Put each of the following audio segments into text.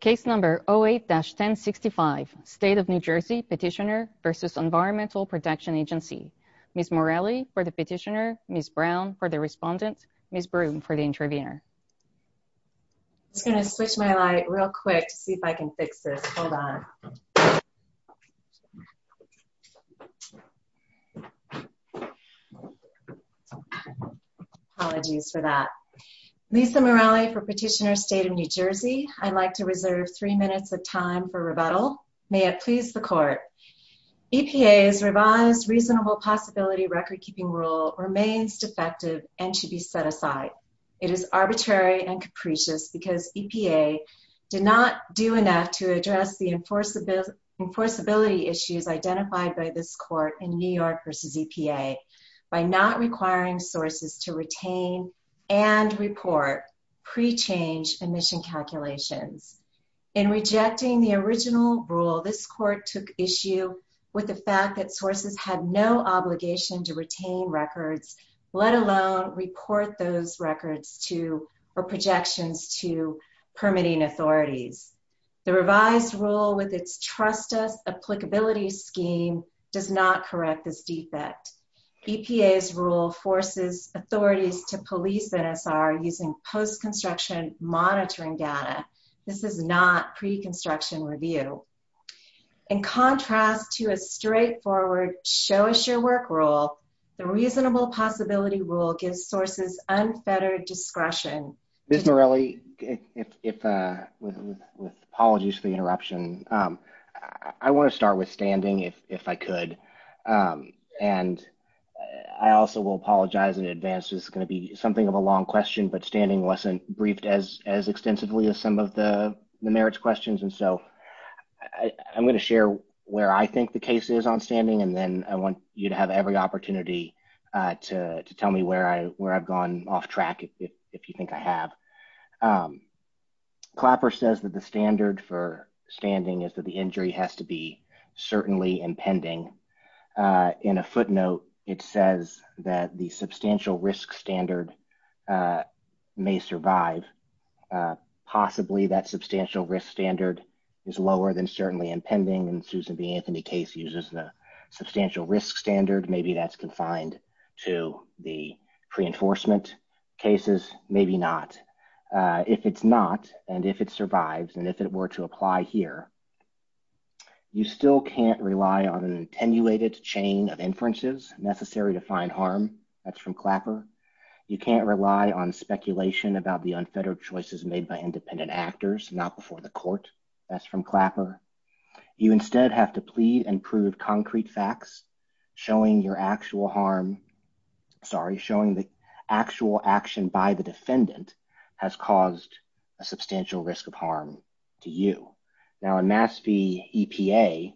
Case number 08-1065 State of New Jersey Petitioner v. Environmental Protection Agency Ms. Morelli for the Petitioner, Ms. Brown for the Respondent, Ms. Broome for the Intervenor I'm just going to switch my light real quick to see if I can fix this. Hold on. Apologies for that. Lisa Morelli for Petitioner, State of New Jersey. I'd like to reserve three minutes of time for rebuttal. May it please the Court. EPA's revised Reasonable Possibility record-keeping rule remains defective and should be set aside. It is arbitrary and capricious because EPA did not do enough to address the enforceability issues identified by this Court in New York v. EPA by not requiring sources to retain and report pre-change emission calculations. In rejecting the original rule, this Court took issue with the fact that sources had no obligation to retain records, let alone report those records to or projections to permitting authorities. The revised rule with its trust us applicability scheme does not correct this defect. EPA's rule forces authorities to police NSR using post-construction monitoring data. This is not pre-construction review. In contrast to a straightforward show us your work rule, the Reasonable Possibility rule gives sources unfettered discretion. Ms. Morelli, with apologies for the interruption, I want to start with standing, if I could. And I also will apologize in advance. This is going to be something of a long question, but standing wasn't briefed as extensively as some of the merits questions. And so I'm going to share where I think the case is on standing, and then I want you to have every opportunity to tell me where I've gone off track, if you think I have. Clapper says that the standard for standing is that the injury has to be certainly impending. In a footnote, it says that the substantial risk standard may survive. Possibly that substantial risk standard is lower than certainly impending, and Susan B. Anthony case uses the substantial risk standard. Maybe that's confined to the pre-enforcement cases. Maybe not. If it's not, and if it survives, and if it were to apply here, you still can't rely on an attenuated chain of inferences necessary to find harm. That's from Clapper. You can't rely on speculation about the unfettered choices made by independent actors, not before the court. That's from Clapper. You instead have to plead and prove concrete facts, showing your actual harm. Sorry, showing the actual action by the defendant has caused a substantial risk of harm to you. Now, in Mass V. EPA,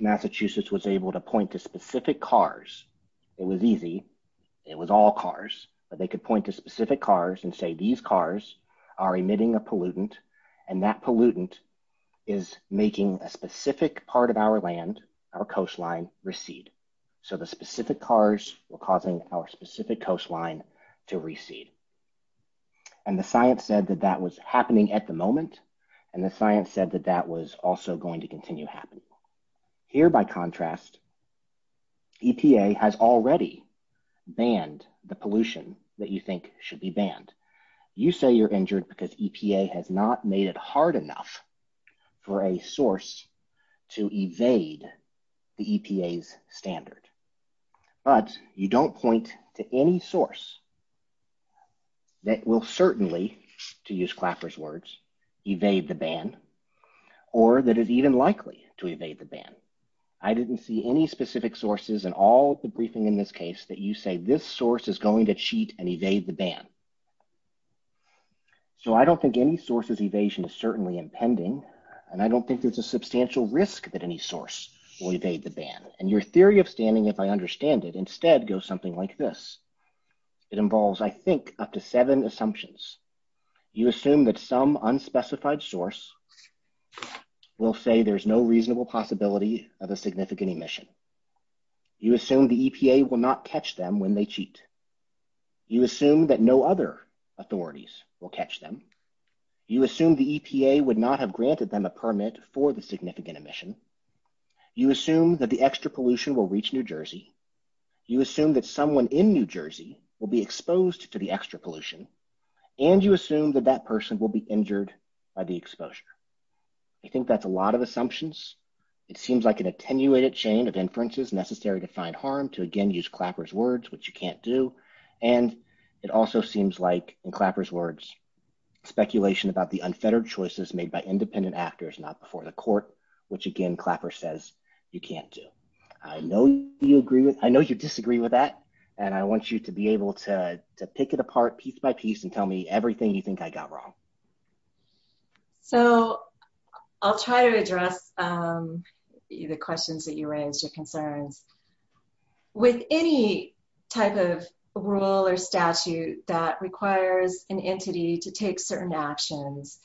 Massachusetts was able to point to specific cars. It was easy. It was all cars, but they could point to specific cars and say these cars are emitting a pollutant, and that pollutant is making a specific part of our land, our coastline, recede. So the specific cars were causing our specific coastline to recede. And the science said that that was happening at the moment, and the science said that that was also going to continue happening. Here, by contrast, EPA has already banned the pollution that you think should be banned. You say you're injured because EPA has not made it hard enough for a source to evade the EPA's standard. But you don't point to any source that will certainly, to use Clapper's words, evade the ban or that is even likely to evade the ban. I didn't see any specific sources in all the briefing in this case that you say this source is going to cheat and evade the ban. So I don't think any source's evasion is certainly impending, and I don't think there's a substantial risk that any source will evade the ban. And your theory of standing, if I understand it, instead goes something like this. It involves, I think, up to seven assumptions. You assume that some unspecified source will say there's no reasonable possibility of a significant emission. You assume the EPA will not catch them when they cheat. You assume that no other authorities will catch them. You assume the EPA would not have granted them a permit for the significant emission. You assume that the extra pollution will reach New Jersey. You assume that someone in New Jersey will be exposed to the extra pollution, and you assume that that person will be injured by the exposure. I think that's a lot of assumptions. It seems like an attenuated chain of inferences necessary to find harm, to again use Clapper's words, which you can't do. And it also seems like, in Clapper's words, speculation about the unfettered choices made by independent actors not before the court, which again Clapper says you can't do. I know you disagree with that, and I want you to be able to pick it apart piece by piece and tell me everything you think I got wrong. So I'll try to address the questions that you raised, your concerns. With any type of rule or statute that requires an entity to take certain actions,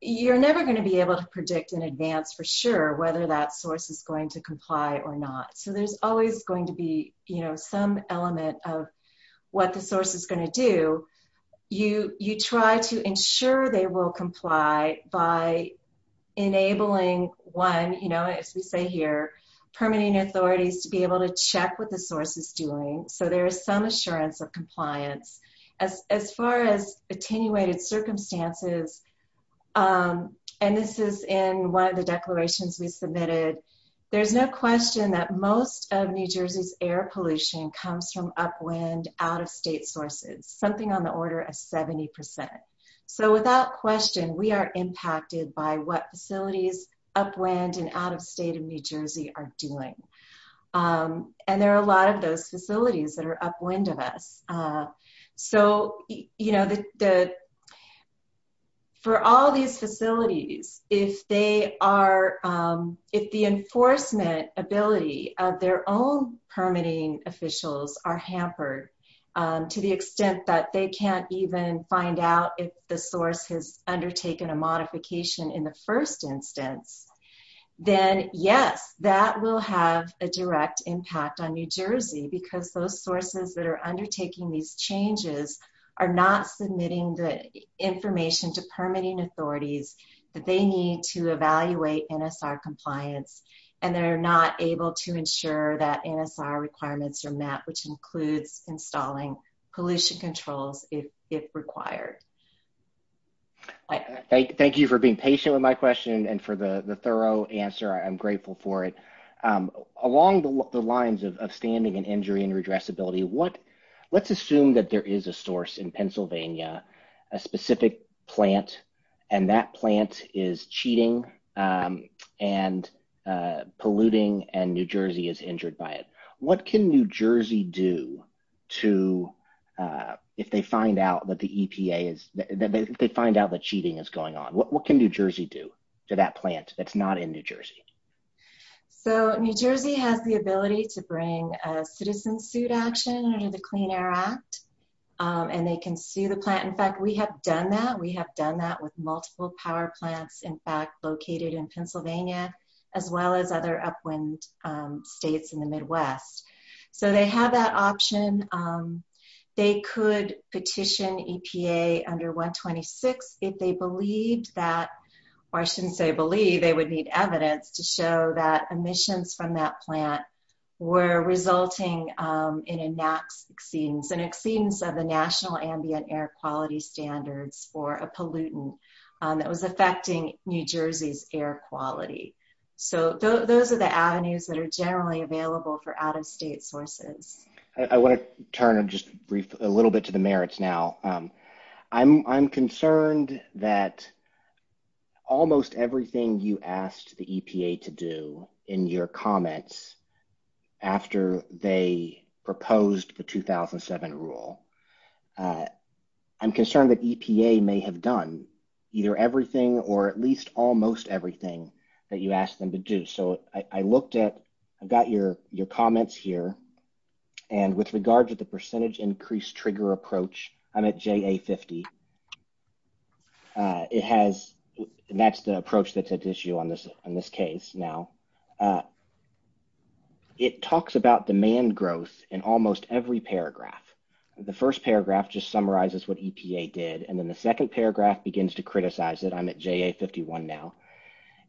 you're never going to be able to predict in advance for sure whether that source is going to comply or not. So there's always going to be some element of what the source is going to do. You try to ensure they will comply by enabling one, as we say here, permitting authorities to be able to check what the source is doing, so there is some assurance of compliance. As far as attenuated circumstances, and this is in one of the declarations we submitted, there's no question that most of New Jersey's air pollution comes from upwind, out-of-state sources, something on the order of 70%. So without question, we are impacted by what facilities upwind and out-of-state in New Jersey are doing. And there are a lot of those facilities that are upwind of us. So for all these facilities, if the enforcement ability of their own permitting officials are hampered to the extent that they can't even find out if the source has undertaken a modification in the first instance, then yes, that will have a direct impact on New Jersey because those sources that are undertaking these changes are not submitting the information to permitting authorities that they need to evaluate NSR compliance, and they're not able to ensure that NSR requirements are met, which includes installing pollution controls if required. Thank you for being patient with my question and for the thorough answer. I'm grateful for it. Along the lines of standing and injury and redressability, let's assume that there is a source in Pennsylvania, a specific plant, and that plant is cheating and polluting and New Jersey is injured by it. What can New Jersey do if they find out that cheating is going on? What can New Jersey do to that plant that's not in New Jersey? So New Jersey has the ability to bring a citizen suit action under the Clean Air Act, and they can sue the plant. In fact, we have done that. We have done that with multiple power plants, in fact, located in Pennsylvania, as well as other upwind states in the Midwest. So they have that option. They could petition EPA under 126 if they believed that, or I shouldn't say believe, they would need evidence to show that emissions from that plant were resulting in an exceedance of the National Ambient Air Quality Standards for a pollutant that was affecting New Jersey's air quality. So those are the avenues that are generally available for out-of-state sources. I want to turn and just brief a little bit to the merits now. I'm concerned that almost everything you asked the EPA to do in your comments after they proposed the 2007 rule, I'm concerned that EPA may have done either everything or at least almost everything that you asked them to do. So I looked at – I've got your comments here. And with regards to the percentage increase trigger approach, I'm at JA50. It has – that's the approach that's at issue on this case now. It talks about demand growth in almost every paragraph. The first paragraph just summarizes what EPA did, and then the second paragraph begins to criticize it. I'm at JA51 now.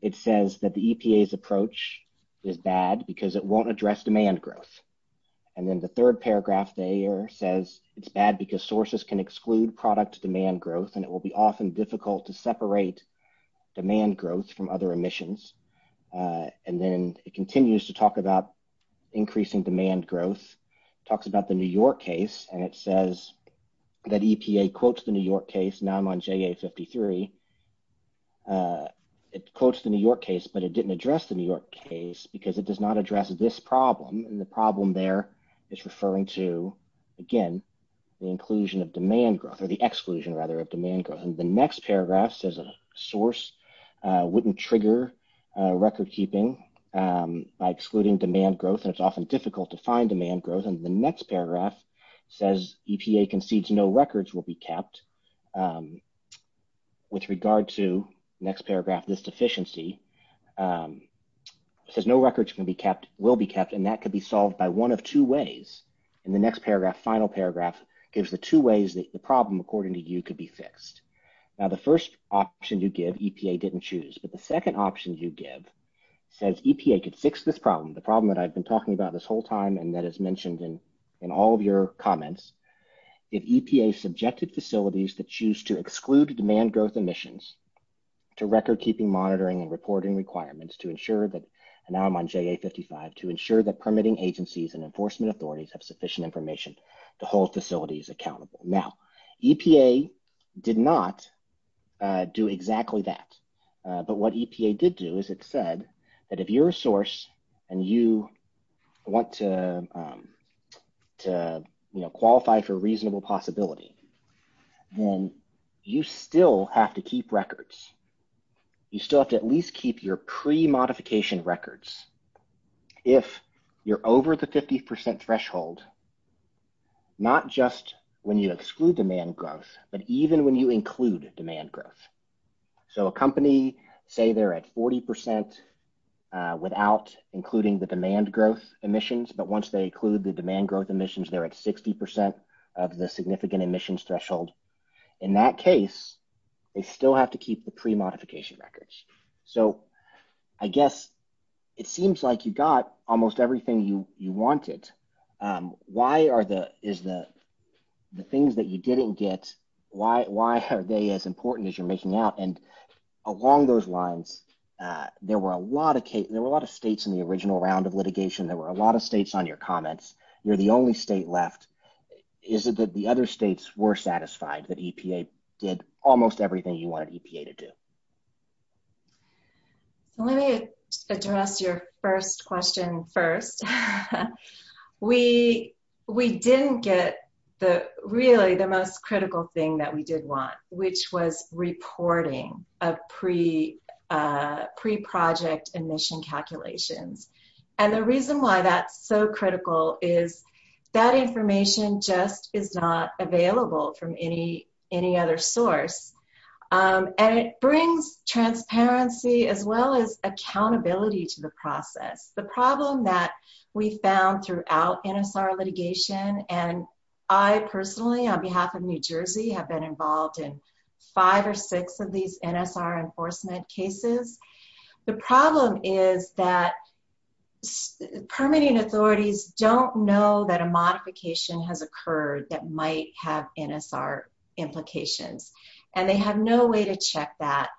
It says that the EPA's approach is bad because it won't address demand growth. And then the third paragraph there says it's bad because sources can exclude product demand growth, and it will be often difficult to separate demand growth from other emissions. And then it continues to talk about increasing demand growth. It talks about the New York case, and it says that EPA quotes the New York case. Now I'm on JA53. It quotes the New York case, but it didn't address the New York case because it does not address this problem, and the problem there is referring to, again, the inclusion of demand growth – or the exclusion, rather, of demand growth. And the next paragraph says a source wouldn't trigger recordkeeping by excluding demand growth, and it's often difficult to find demand growth. And the next paragraph says EPA concedes no records will be kept. With regard to the next paragraph, this deficiency, it says no records will be kept, and that could be solved by one of two ways. And the next paragraph, final paragraph, gives the two ways that the problem, according to you, could be fixed. Now the first option you give, EPA didn't choose, but the second option you give says EPA could fix this problem, the problem that I've been talking about this whole time and that is mentioned in all of your comments. If EPA subjected facilities that choose to exclude demand growth emissions to recordkeeping monitoring and reporting requirements to ensure that – and now I'm on JA55 – to ensure that permitting agencies and enforcement authorities have sufficient information to hold facilities accountable. Now, EPA did not do exactly that, but what EPA did do is it said that if you're a source and you want to qualify for reasonable possibility, then you still have to keep records. You still have to at least keep your pre-modification records if you're over the 50% threshold, not just when you exclude demand growth, but even when you include demand growth. So a company, say they're at 40% without including the demand growth emissions, but once they include the demand growth emissions, they're at 60% of the significant emissions threshold. In that case, they still have to keep the pre-modification records. So I guess it seems like you got almost everything you wanted. Why are the – is the things that you didn't get, why are they as important as you're making out? And along those lines, there were a lot of states in the original round of litigation. There were a lot of states on your comments. You're the only state left. Is it that the other states were satisfied that EPA did almost everything you wanted EPA to do? Let me address your first question first. We didn't get really the most critical thing that we did want, which was reporting of pre-project emission calculations. And the reason why that's so critical is that information just is not available from any other source. And it brings transparency as well as accountability to the process. The problem that we found throughout NSR litigation – and I personally, on behalf of New Jersey, have been involved in five or six of these NSR enforcement cases – the problem is that permitting authorities don't know that a modification has occurred that might have NSR implications. And they have no way to check that.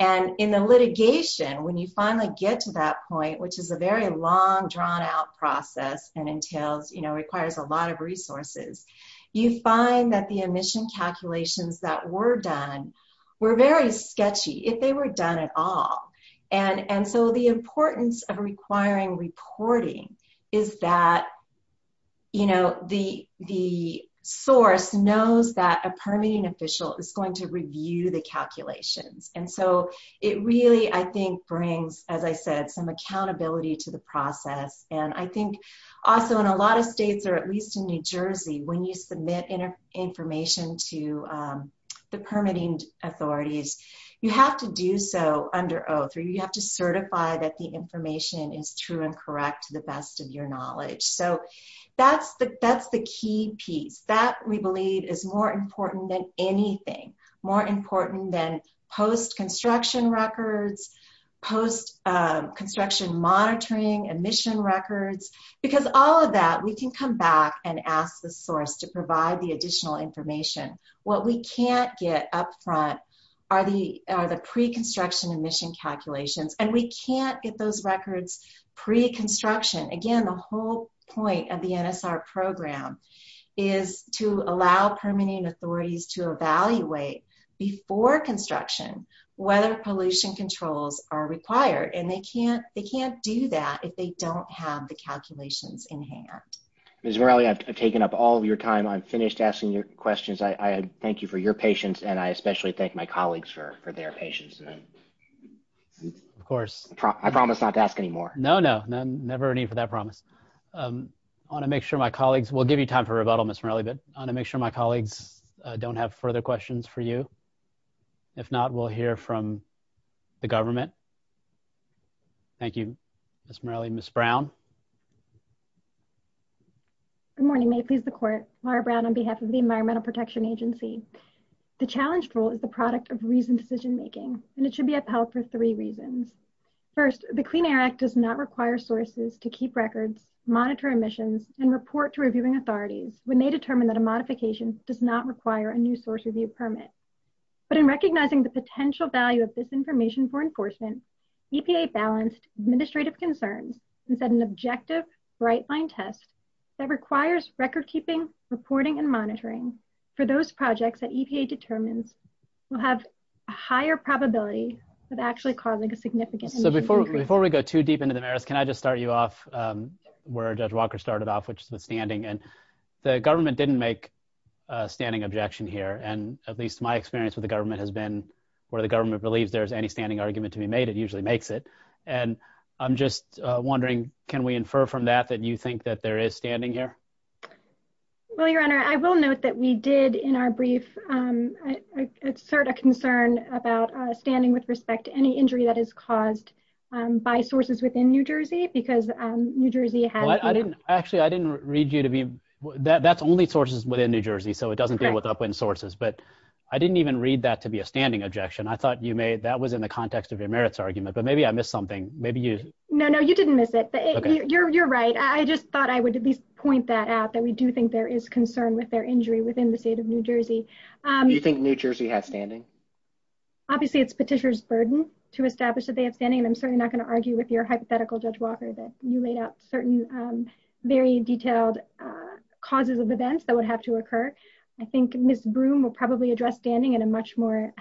And in the litigation, when you finally get to that point, which is a very long, drawn-out process and entails – requires a lot of resources, you find that the emission calculations that were done were very sketchy, if they were done at all. And so the importance of requiring reporting is that the source knows that a permitting official is going to review the calculations. And so it really, I think, brings, as I said, some accountability to the process. And I think also in a lot of states, or at least in New Jersey, when you submit information to the permitting authorities, you have to do so under oath, or you have to certify that the information is true and correct to the best of your knowledge. So that's the key piece. That, we believe, is more important than anything. More important than post-construction records, post-construction monitoring, emission records. Because all of that, we can come back and ask the source to provide the additional information. What we can't get up front are the pre-construction emission calculations. And we can't get those records pre-construction. Again, the whole point of the NSR program is to allow permitting authorities to evaluate before construction whether pollution controls are required. And they can't do that if they don't have the calculations in hand. Ms. Morelli, I've taken up all of your time. I'm finished asking your questions. I thank you for your patience, and I especially thank my colleagues for their patience. Of course. I promise not to ask any more. No, no. Never a need for that promise. I want to make sure my colleagues, we'll give you time for rebuttal, Ms. Morelli, but I want to make sure my colleagues don't have further questions for you. If not, we'll hear from the government. Thank you, Ms. Morelli. Thank you, Ms. Brown. Good morning. May it please the court, Laura Brown on behalf of the Environmental Protection Agency. The challenged rule is the product of reasoned decision making, and it should be upheld for three reasons. First, the Clean Air Act does not require sources to keep records, monitor emissions, and report to reviewing authorities when they determine that a modification does not require a new source review permit. But in recognizing the potential value of this information for enforcement, EPA balanced administrative concerns and set an objective bright line test that requires record keeping, reporting, and monitoring for those projects that EPA determines will have a higher probability of actually causing a significant... So before we go too deep into the merits, can I just start you off where Judge Walker started off, which is with standing. And the government didn't make a standing objection here, and at least my experience with the government has been where the government believes there's any standing argument to be made, it usually makes it. And I'm just wondering, can we infer from that that you think that there is standing here? Well, Your Honor, I will note that we did in our brief assert a concern about standing with respect to any injury that is caused by sources within New Jersey because New Jersey has... Actually, I didn't read you to be... That's only sources within New Jersey, so it doesn't deal with upwind sources, but I didn't even read that to be a standing objection. I thought you made that was in the context of your merits argument, but maybe I missed something. Maybe you... No, no, you didn't miss it. You're right. I just thought I would at least point that out, that we do think there is concern with their injury within the state of New Jersey. Do you think New Jersey has standing? Obviously, it's Petitioner's burden to establish that they have standing, and I'm certainly not going to argue with your hypothetical, Judge Walker, that you laid out certain very detailed causes of events that would have to occur. I think Ms. Broom will probably address standing in a much more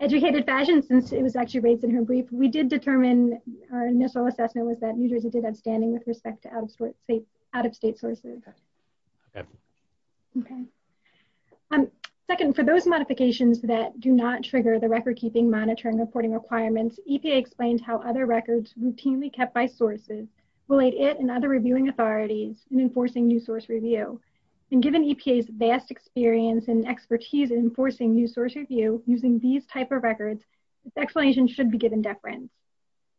educated fashion since it was actually raised in her brief. We did determine, our initial assessment was that New Jersey did have standing with respect to out-of-state sources. Okay. Second, for those modifications that do not trigger the record-keeping, monitoring, reporting requirements, EPA explained how other records routinely kept by sources relate it and other reviewing authorities in enforcing new source review. Given EPA's vast experience and expertise in enforcing new source review using these type of records, the explanation should be given deference.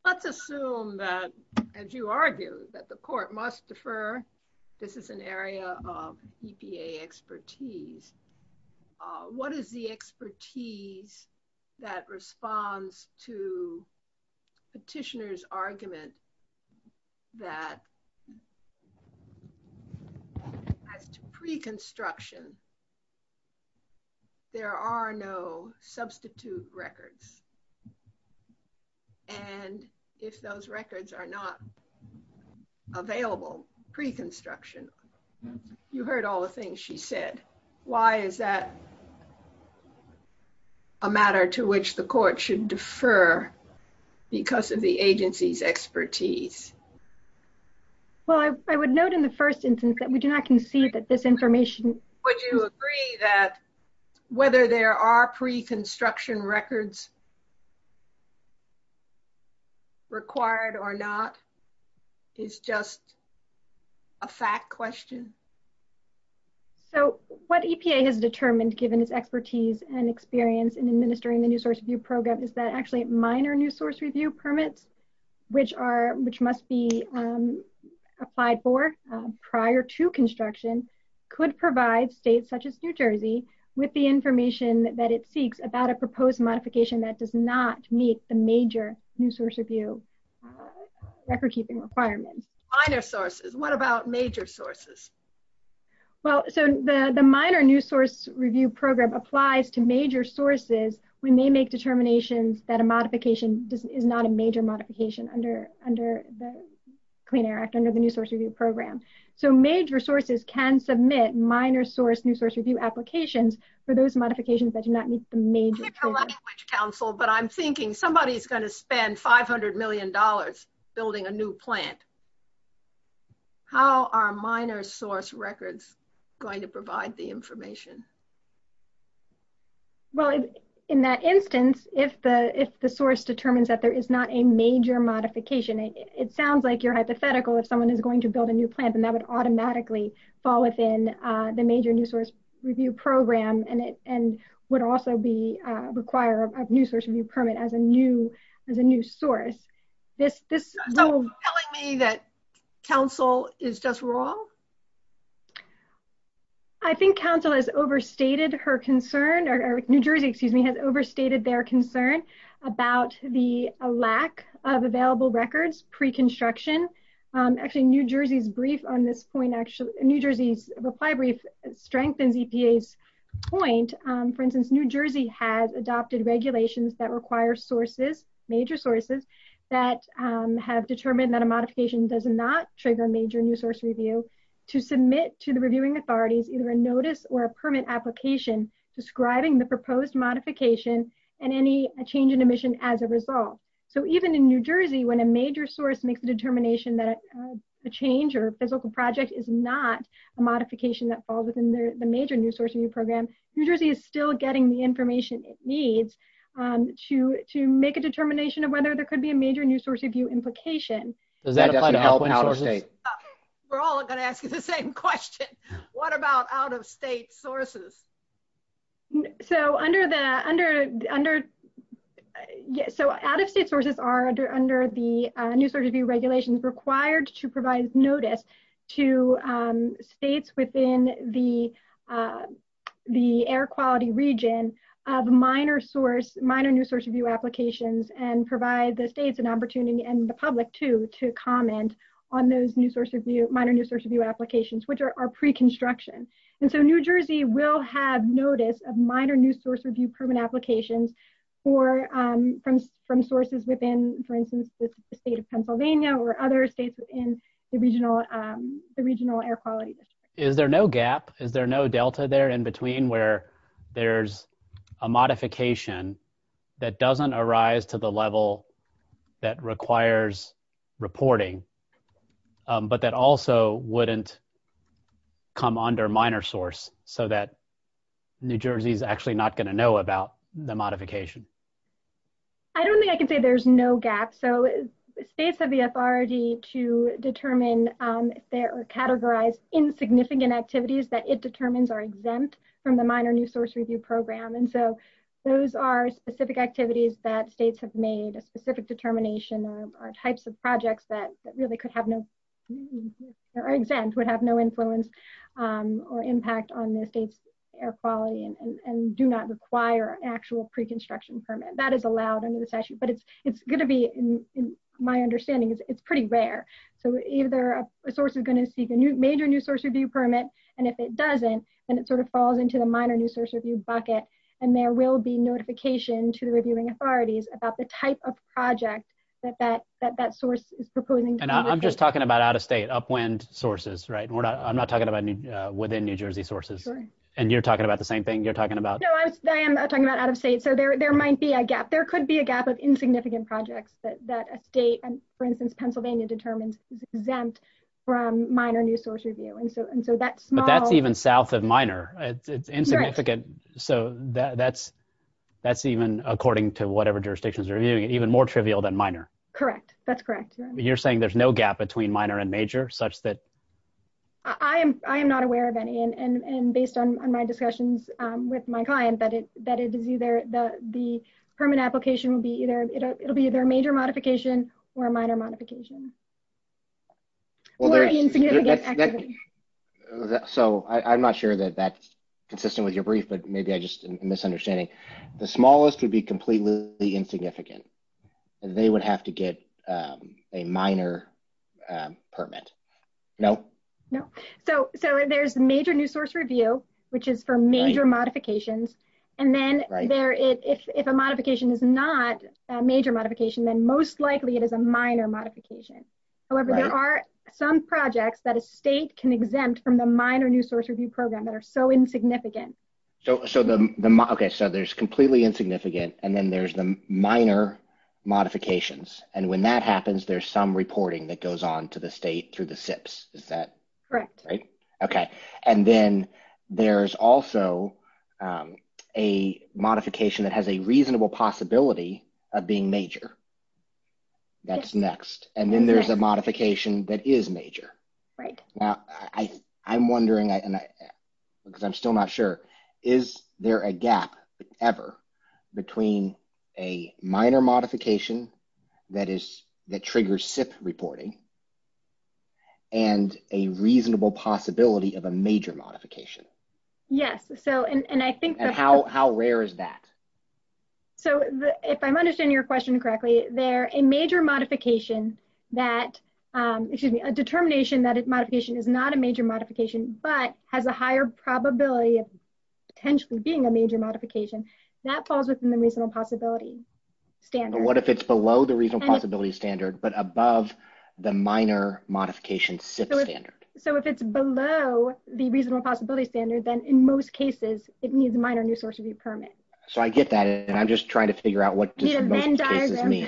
Let's assume that, as you argue, that the court must defer. This is an area of EPA expertise. What is the expertise that responds to Petitioner's argument that, as to pre-construction, there are no substitute records? And if those records are not available pre-construction, you heard all the things she said. Why is that a matter to which the court should defer because of the agency's expertise? Well, I would note in the first instance that we do not concede that this information... Would you agree that whether there are pre-construction records required or not is just a fact question? So what EPA has determined, given its expertise and experience in administering the new source review program, is that actually minor new source review permits, which must be applied for prior to construction, could provide states such as New Jersey with the information that it seeks about a proposed modification that does not meet the major new source review record-keeping requirements. Minor sources. What about major sources? Well, so the minor new source review program applies to major sources when they make determinations that a modification is not a major modification under the Clean Air Act, under the new source review program. So major sources can submit minor source new source review applications for those modifications that do not meet the major... But I'm thinking somebody is going to spend $500 million building a new plant. How are minor source records going to provide the information? Well, in that instance, if the source determines that there is not a major modification, it sounds like you're hypothetical if someone is going to build a new plant and that would automatically fall within the major new source review program and would also require a new source review permit as a new source. So you're telling me that council is just wrong? I think council has overstated her concern, or New Jersey, excuse me, has overstated their concern about the lack of available records pre-construction. Actually, New Jersey's reply brief strengthens EPA's point. For instance, New Jersey has adopted regulations that require sources, major sources, that have determined that a modification does not trigger a major new source review to submit to the reviewing authorities either a notice or a permit application describing the proposed modification and any change in emission as a result. So even in New Jersey, when a major source makes the determination that the change or physical project is not a modification that falls within the major new source review program, New Jersey is still getting the information it needs to make a determination of whether there could be a major new source review implication. Does that apply to out-of-state? We're all going to ask you the same question. What about out-of-state sources? So out-of-state sources are under the new source review regulations required to provide notice to states within the air quality region of minor new source review applications and provide the states an opportunity, and the public too, to comment on those minor new source review applications, which are pre-construction. And so New Jersey will have notice of minor new source review permit applications from sources within, for instance, the state of Pennsylvania or other states in the regional air quality. Is there no gap? Is there no delta there in between where there's a modification that doesn't arise to the level that requires reporting, but that also wouldn't come under minor source so that New Jersey is actually not going to know about the modification? I don't think I can say there's no gap. So states have the authority to determine if there are categorized insignificant activities that it determines are exempt from the minor new source review program. And so those are specific activities that states have made a specific determination or types of projects that really could have no, or exempt, would have no influence or impact on the state's air quality and do not require actual pre-construction permit. That is allowed under the statute, but it's going to be, in my understanding, it's pretty rare. So either a source is going to seek a major new source review permit, and if it doesn't, then it sort of falls into the minor new source review bucket, and there will be notification to the reviewing authorities about the type of project that that source is proposing. And I'm just talking about out of state, upwind sources, right? I'm not talking about within New Jersey sources. And you're talking about the same thing you're talking about? No, I am talking about out of state. So there might be a gap. There could be a gap of insignificant projects that a state, for instance, Pennsylvania, determines is exempt from minor new source review. And so that small... But that's even south of minor. It's insignificant. So that's even, according to whatever jurisdictions are reviewing it, even more trivial than minor. Correct. That's correct. You're saying there's no gap between minor and major, such that... I am not aware of any, and based on my discussions with my client, that it is either the permit application will be either, it'll be either a major modification or a minor modification. Or an insignificant activity. So I'm not sure that that's consistent with your brief, but maybe I'm just misunderstanding. The smallest would be completely insignificant. They would have to get a minor permit. No. So there's major new source review, which is for major modifications. And then if a modification is not a major modification, then most likely it is a minor modification. However, there are some projects that a state can exempt from the minor new source review program that are so insignificant. So there's completely insignificant, and then there's the minor modifications. And when that happens, there's some reporting that goes on to the state through the SIPs. Is that... Correct. Okay. And then there's also a modification that has a reasonable possibility of being major. That's next. And then there's a modification that is major. Right. I'm wondering, because I'm still not sure, is there a gap ever between a minor modification that triggers SIP reporting and a reasonable possibility of a major modification? Yes. And how rare is that? So if I'm understanding your question correctly, a determination that a modification is not a major modification but has a higher probability of potentially being a major modification, that falls within the reasonable possibility standard. But what if it's below the reasonable possibility standard but above the minor modification SIP standard? So if it's below the reasonable possibility standard, then in most cases, it needs a minor new source review permit. So I get that, and I'm just trying to figure out what most cases mean.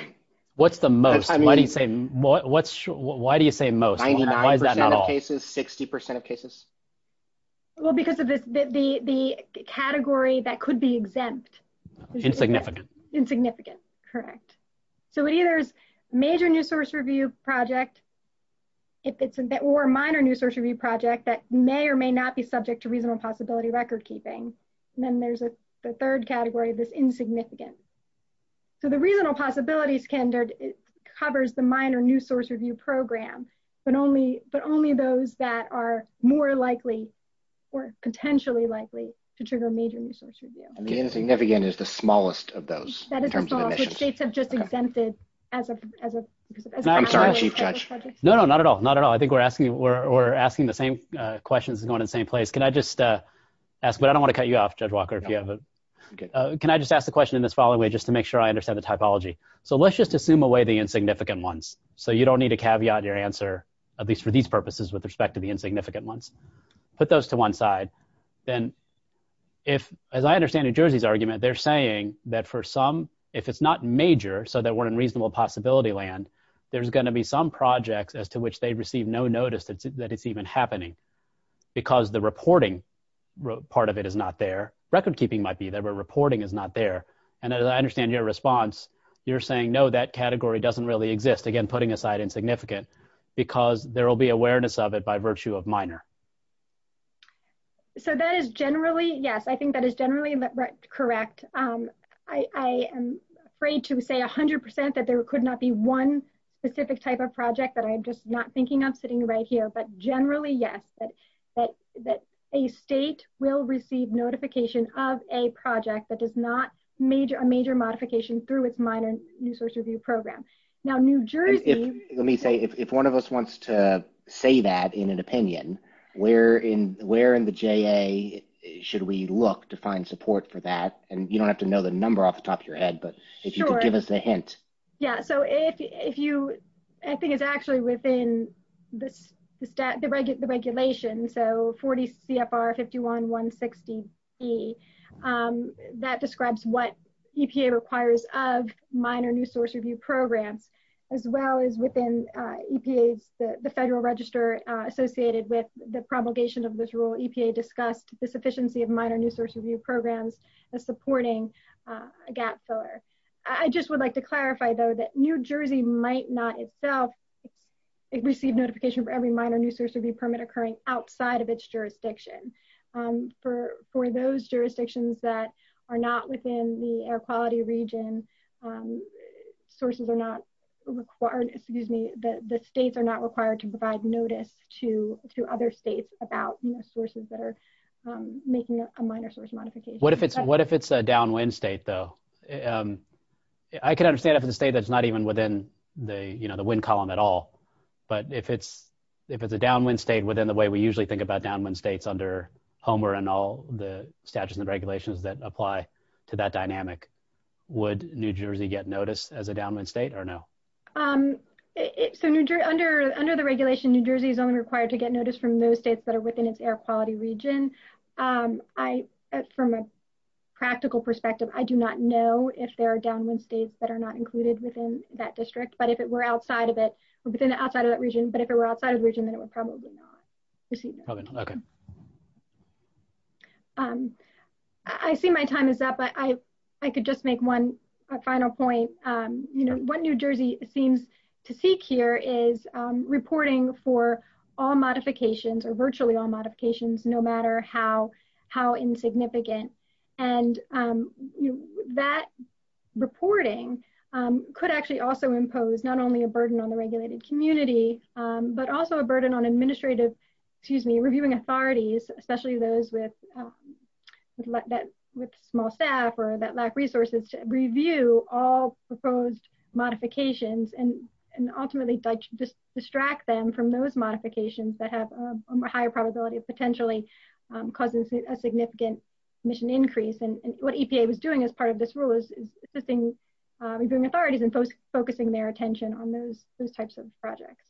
What's the most? Why do you say most? Why is that not all? 99% of cases? 60% of cases? Well, because of the category that could be exempt. Insignificant. Insignificant. Correct. So it either is a major new source review project or a minor new source review project that may or may not be subject to reasonable possibility record keeping. And then there's a third category that's insignificant. So the reasonable possibility standard covers the minor new source review program, but only those that are more likely or potentially likely to trigger major new source review. Insignificant is the smallest of those, in terms of emissions. That is the smallest, which states have just exempted as a project. I'm sorry, Chief Judge. No, no, not at all. Not at all. I think we're asking the same questions and going in the same place. Can I just ask, but I don't want to cut you off, Judge Walker, if you have a... Can I just ask the question in this following way just to make sure I understand the typology? So let's just assume away the insignificant ones so you don't need to caveat your answer, at least for these purposes with respect to the insignificant ones. Put those to one side. Then if, as I understand New Jersey's argument, they're saying that for some, if it's not major, so that we're in reasonable possibility land, there's going to be some projects as to which they receive no notice that it's even happening. Because the reporting part of it is not there. Record keeping might be there, but reporting is not there. And as I understand your response, you're saying, no, that category doesn't really exist, again, putting aside insignificant, because there will be awareness of it by virtue of minor. So that is generally, yes, I think that is generally correct. I am afraid to say 100% that there could not be one specific type of project that I'm just not thinking of sitting right here. But generally, yes, that a state will receive notification of a project that is not a major modification through its minor news source review program. Let me say, if one of us wants to say that in an opinion, where in the JA should we look to find support for that? And you don't have to know the number off the top of your head, but if you could give us a hint. Yeah, so if you, I think it's actually within the regulation, so 40 CFR 51-160-B. That describes what EPA requires of minor news source review programs, as well as within EPA's, the Federal Register associated with the promulgation of this rule, EPA discussed the sufficiency of minor news source review programs as supporting a gap filler. I just would like to clarify, though, that New Jersey might not itself receive notification for every minor news source review permit occurring outside of its jurisdiction. For those jurisdictions that are not within the air quality region, sources are not required, excuse me, the states are not required to provide notice to other states about sources that are making a minor source modification. What if it's a downwind state, though? I can understand if it's a state that's not even within the, you know, the wind column at all. But if it's a downwind state within the way we usually think about downwind states under Homer and all the statutes and regulations that apply to that dynamic, would New Jersey get notice as a downwind state or no? So under the regulation, New Jersey is only required to get notice from those states that are within its air quality region. I, from a practical perspective, I do not know if there are downwind states that are not included within that district, but if it were outside of it, within the outside of that region, but if it were outside of the region, then it would probably not receive it. I see my time is up, but I could just make one final point. You know, what New Jersey seems to seek here is reporting for all modifications or virtually all modifications, no matter how insignificant. And that reporting could actually also impose not only a burden on the regulated community, but also a burden on administrative, excuse me, reviewing authorities, especially those with small staff or that lack resources to review all proposed modifications and ultimately distract them from those modifications that have a higher probability of potentially causing a significant emission increase. And what EPA was doing as part of this rule is assisting reviewing authorities and focusing their attention on those types of projects.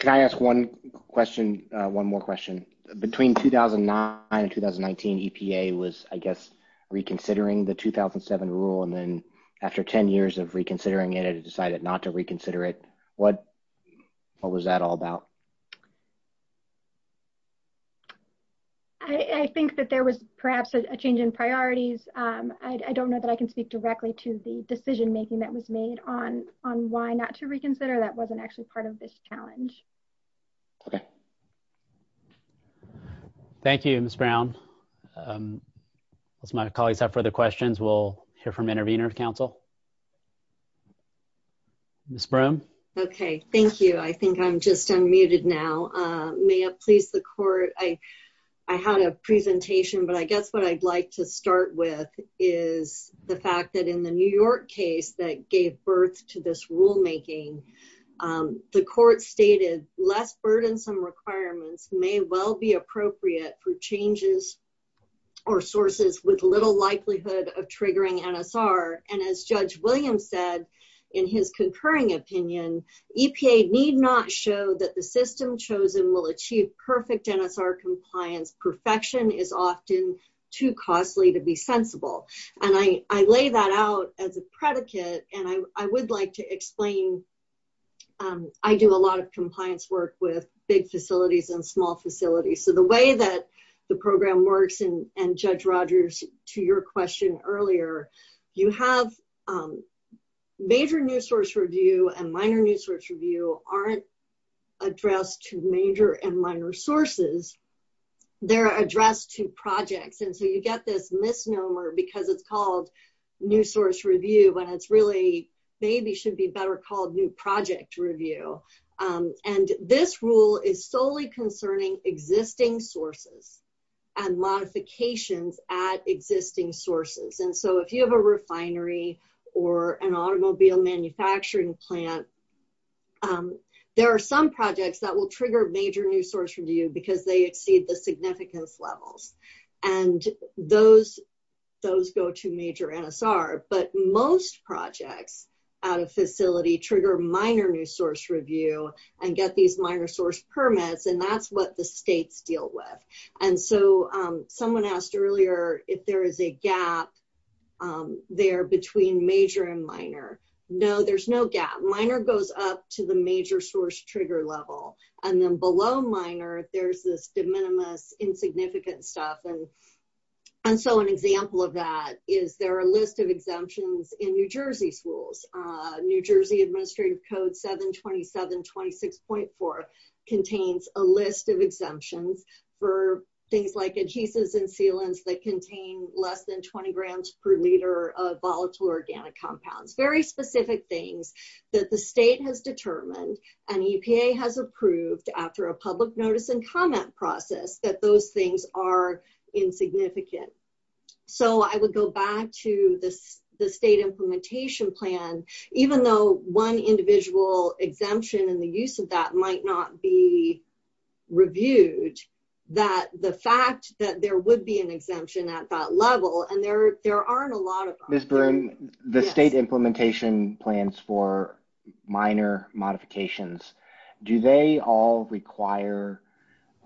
Can I ask one question, one more question? Between 2009 and 2019, EPA was, I guess, reconsidering the 2007 rule and then after 10 years of reconsidering it, it decided not to reconsider it. What was that all about? I think that there was perhaps a change in priorities. I don't know that I can speak directly to the decision making that was made on why not to reconsider. That wasn't actually part of this challenge. Thank you, Ms. Brown. As my colleagues have further questions, we'll hear from intervener of council. Ms. Broome. Okay, thank you. I think I'm just unmuted now. May it please the court, I had a presentation, but I guess what I'd like to start with is the fact that in the New York case that gave birth to this rulemaking, the court stated less burdensome requirements may well be appropriate for changes or sources with little likelihood of triggering NSR. And as Judge Williams said in his concurring opinion, EPA need not show that the system chosen will achieve perfect NSR compliance. Perfection is often too costly to be sensible. And I lay that out as a predicate, and I would like to explain. I do a lot of compliance work with big facilities and small facilities. So the way that the program works, and Judge Rogers, to your question earlier, you have major new source review and minor new source review aren't addressed to major and minor sources. They're addressed to projects. And so you get this misnomer because it's called new source review, but it's really maybe should be better called new project review. And this rule is solely concerning existing sources and modifications at existing sources. And so if you have a refinery or an automobile manufacturing plant, there are some projects that will trigger major new source review because they exceed the significance levels. And those go to major NSR. But most projects out of facility trigger minor new source review and get these minor source permits. And that's what the states deal with. And so someone asked earlier if there is a gap there between major and minor. No, there's no gap. Minor goes up to the major source trigger level and then below minor there's this de minimis insignificant stuff and And so an example of that is there a list of exemptions in New Jersey schools. New Jersey Administrative Code 727-26.4 contains a list of exemptions for things like adhesives and sealants that contain less than 20 grams per liter of volatile organic compounds. Very specific things that the state has determined and EPA has approved after a public notice and comment process that those things are insignificant. So I would go back to the state implementation plan, even though one individual exemption and the use of that might not be reviewed, that the fact that there would be an exemption at that level and there aren't a lot of Miss Byrne, the state implementation plans for minor modifications. Do they all require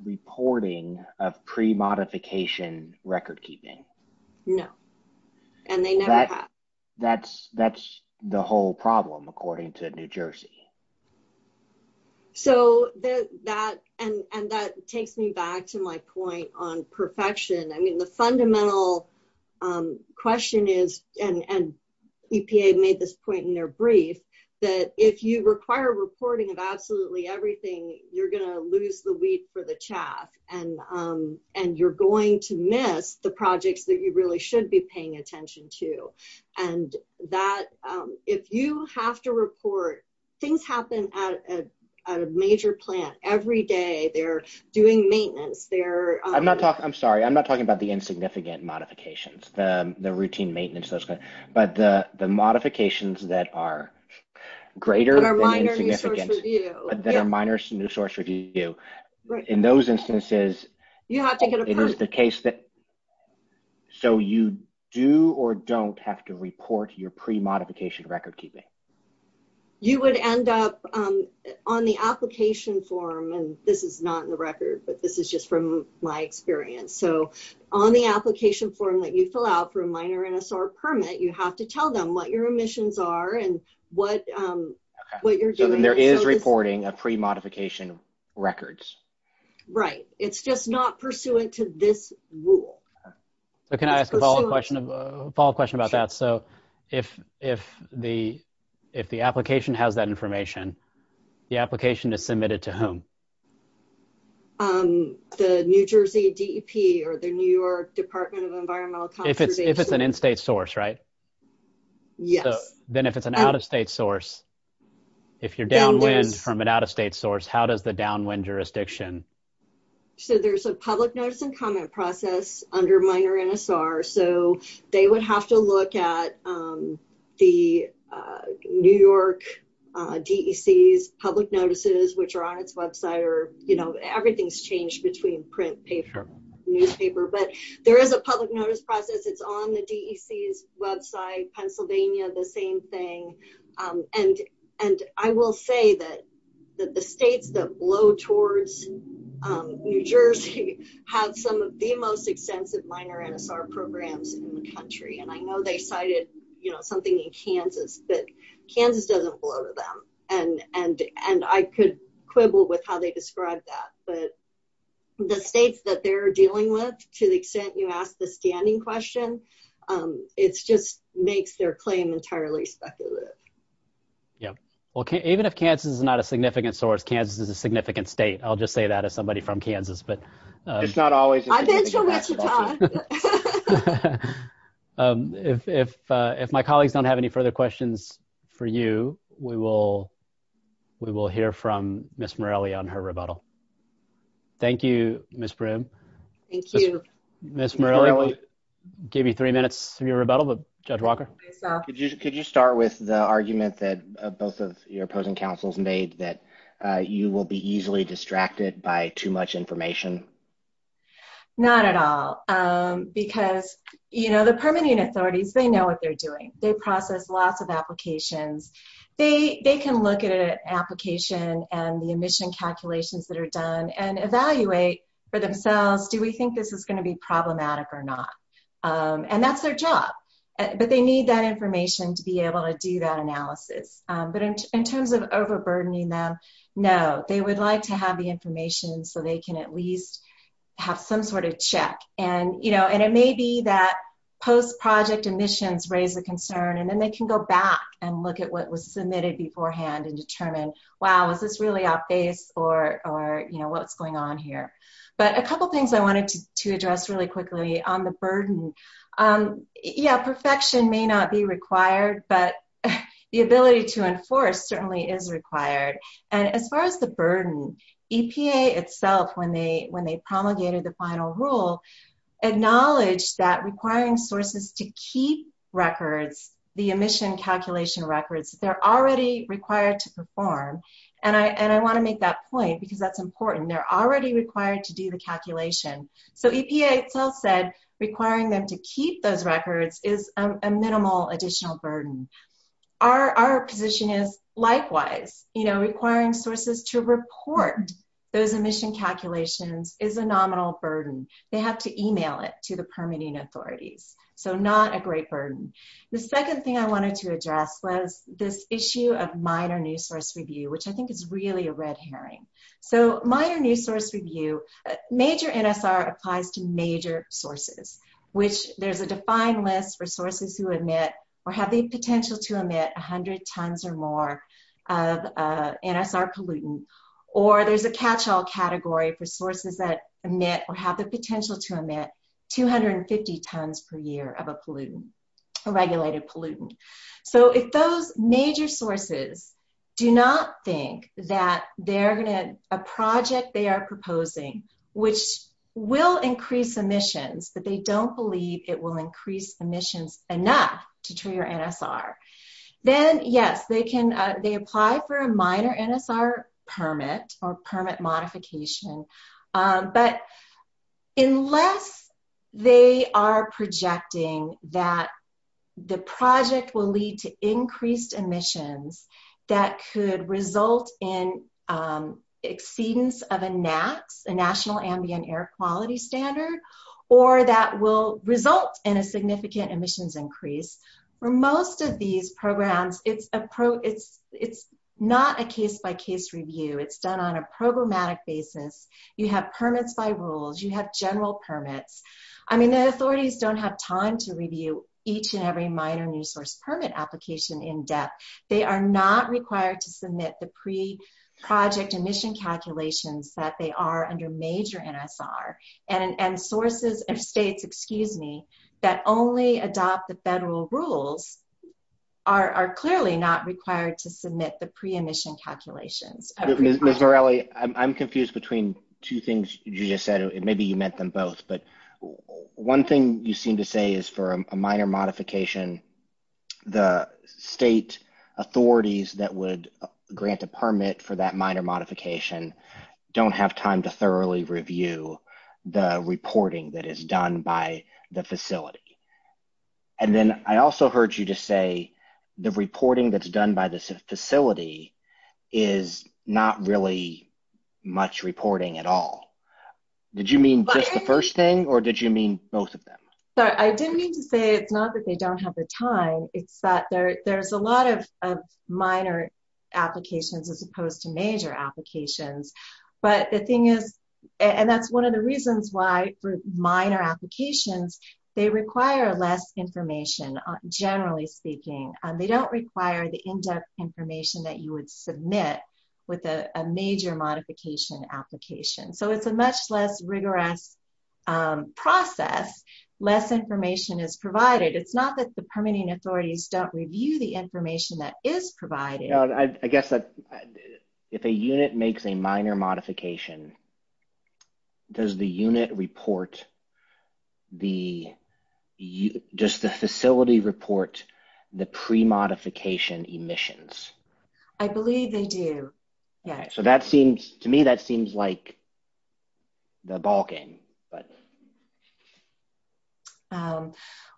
reporting of pre-modification record keeping? No. And they never have. That's, that's the whole problem, according to New Jersey. So that, and that takes me back to my point on perfection. I mean, the fundamental question is, and EPA made this point in their brief, that if you require reporting of absolutely everything, you're going to lose the wheat for the chaff and you're going to miss the projects that you really should be paying attention to. And that, if you have to report, things happen at a major plant every day, they're doing maintenance, they're I'm sorry, I'm not talking about the insignificant modifications, the routine maintenance, but the modifications that are greater than insignificant that are minor to new source review. In those instances, it is the case that so you do or don't have to report your pre-modification record keeping. You would end up on the application form, and this is not in the record, but this is just from my experience. So on the application form that you fill out for a minor NSR permit, you have to tell them what your emissions are and what you're doing. So then there is reporting of pre-modification records. Right. It's just not pursuant to this rule. Can I ask a follow up question about that? So if the application has that information, the application is submitted to whom? The New Jersey DEP or the New York Department of Environmental Conservation. If it's an in-state source, right? Yes. Then if it's an out-of-state source, if you're downwind from an out-of-state source, how does the downwind jurisdiction? So there's a public notice and comment process under minor NSR, so they would have to look at the New York DEC's public notices, which are on its website or, you know, everything's changed between print, paper, newspaper, but there is a public notice process. It's on the DEC's website, Pennsylvania, the same thing. And I will say that the states that blow towards New Jersey have some of the most extensive minor NSR programs in the country. And I know they cited, you know, something in Kansas, but Kansas doesn't blow to them. And I could quibble with how they describe that, but the states that they're dealing with, to the extent you ask the standing question, it's just makes their claim entirely speculative. Yeah. Well, even if Kansas is not a significant source, Kansas is a significant state. I'll just say that as somebody from Kansas, but I've been to Wichita. If my colleagues don't have any further questions for you, we will hear from Ms. Morelli on her rebuttal. Thank you, Ms. Brim. Thank you. Ms. Morelli, we'll give you three minutes for your rebuttal, but Judge Walker. Could you start with the argument that both of your opposing counsels made that you will be easily distracted by too much information? Not at all. Because, you know, the permitting authorities, they know what they're doing. They process lots of applications. They can look at an application and the admission calculations that are done and evaluate for themselves. Do we think this is going to be problematic or not? And that's their job. But they need that information to be able to do that analysis. But in terms of overburdening them, no, they would like to have the information so they can at least have some sort of check. And, you know, and it may be that post-project admissions raise the concern and then they can go back and look at what was submitted beforehand and determine, wow, is this really out based or, you know, what's going on here? But a couple things I wanted to address really quickly on the burden. Yeah, perfection may not be required, but the ability to enforce certainly is required. And as far as the burden, EPA itself, when they promulgated the final rule, acknowledged that requiring sources to keep records, the admission calculation records, they're already required to perform. And I want to make that point because that's important. They're already required to do the calculation. So EPA itself said requiring them to keep those records is a minimal additional burden. Our position is likewise, you know, requiring sources to report those admission calculations is a nominal burden. They have to email it to the permitting authorities. So not a great burden. The second thing I wanted to address was this issue of minor new source review, which I think is really a red herring. So minor new source review, major NSR applies to major sources, which there's a defined list for sources who emit or have the potential to emit 100 tons or more of NSR pollutant, or there's a catch all category for sources that emit or have the potential to emit 250 tons per year of a pollutant, a regulated pollutant. So if those major sources do not think that they're going to, a project they are proposing, which will increase emissions, but they don't believe it will increase emissions enough to trigger NSR, then yes, they apply for a minor NSR permit or permit modification. But unless they are projecting that the project will lead to increased emissions that could result in It's not a case by case review. It's done on a programmatic basis. You have permits by rules. You have general permits. I mean, the authorities don't have time to review each and every minor new source permit application in depth. They are not required to submit the pre project emission calculations that they are under major NSR and sources and states, excuse me, that only adopt the federal rules are clearly not required to submit the pre-emission calculations. Ms. Morelli, I'm confused between two things you just said. Maybe you meant them both. But one thing you seem to say is for a minor modification, the state authorities that would grant a permit for that minor modification don't have time to thoroughly review the reporting that is done by the facility. And then I also heard you just say the reporting that's done by this facility is not really much reporting at all. Did you mean just the first thing or did you mean both of them? I didn't mean to say it's not that they don't have the time. It's that there's a lot of minor applications, as opposed to major applications. But the thing is, and that's one of the reasons why for minor applications, they require less information. Generally speaking, they don't require the in-depth information that you would submit with a major modification application. So it's a much less rigorous process. Less information is provided. It's not that the permitting authorities don't review the information that is provided. I guess that if a unit makes a minor modification, does the unit report, does the facility report the pre-modification emissions? I believe they do. To me, that seems like the ballgame.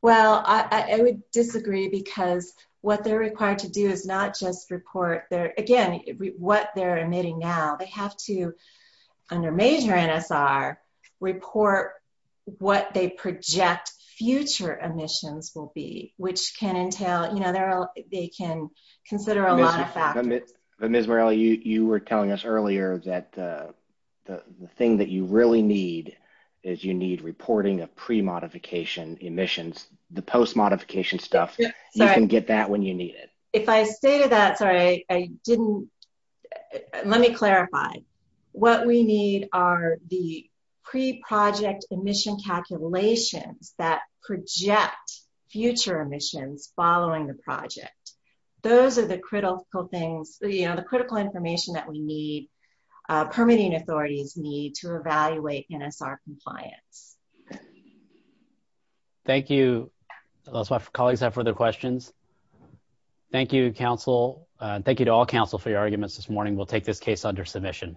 Well, I would disagree because what they're required to do is not just report, again, what they're emitting now. They have to, under major NSR, report what they project future emissions will be, which can entail, you know, they can consider a lot of factors. Ms. Morelli, you were telling us earlier that the thing that you really need is you need reporting of pre-modification emissions. The post-modification stuff, you can get that when you need it. If I stated that, sorry, I didn't, let me clarify. What we need are the pre-project emission calculations that project future emissions following the project. Those are the critical things, you know, the critical information that we need, permitting authorities need to evaluate NSR compliance. Thank you. That's why colleagues have further questions. Thank you, counsel. Thank you to all counsel for your arguments this morning. We'll take this case under submission.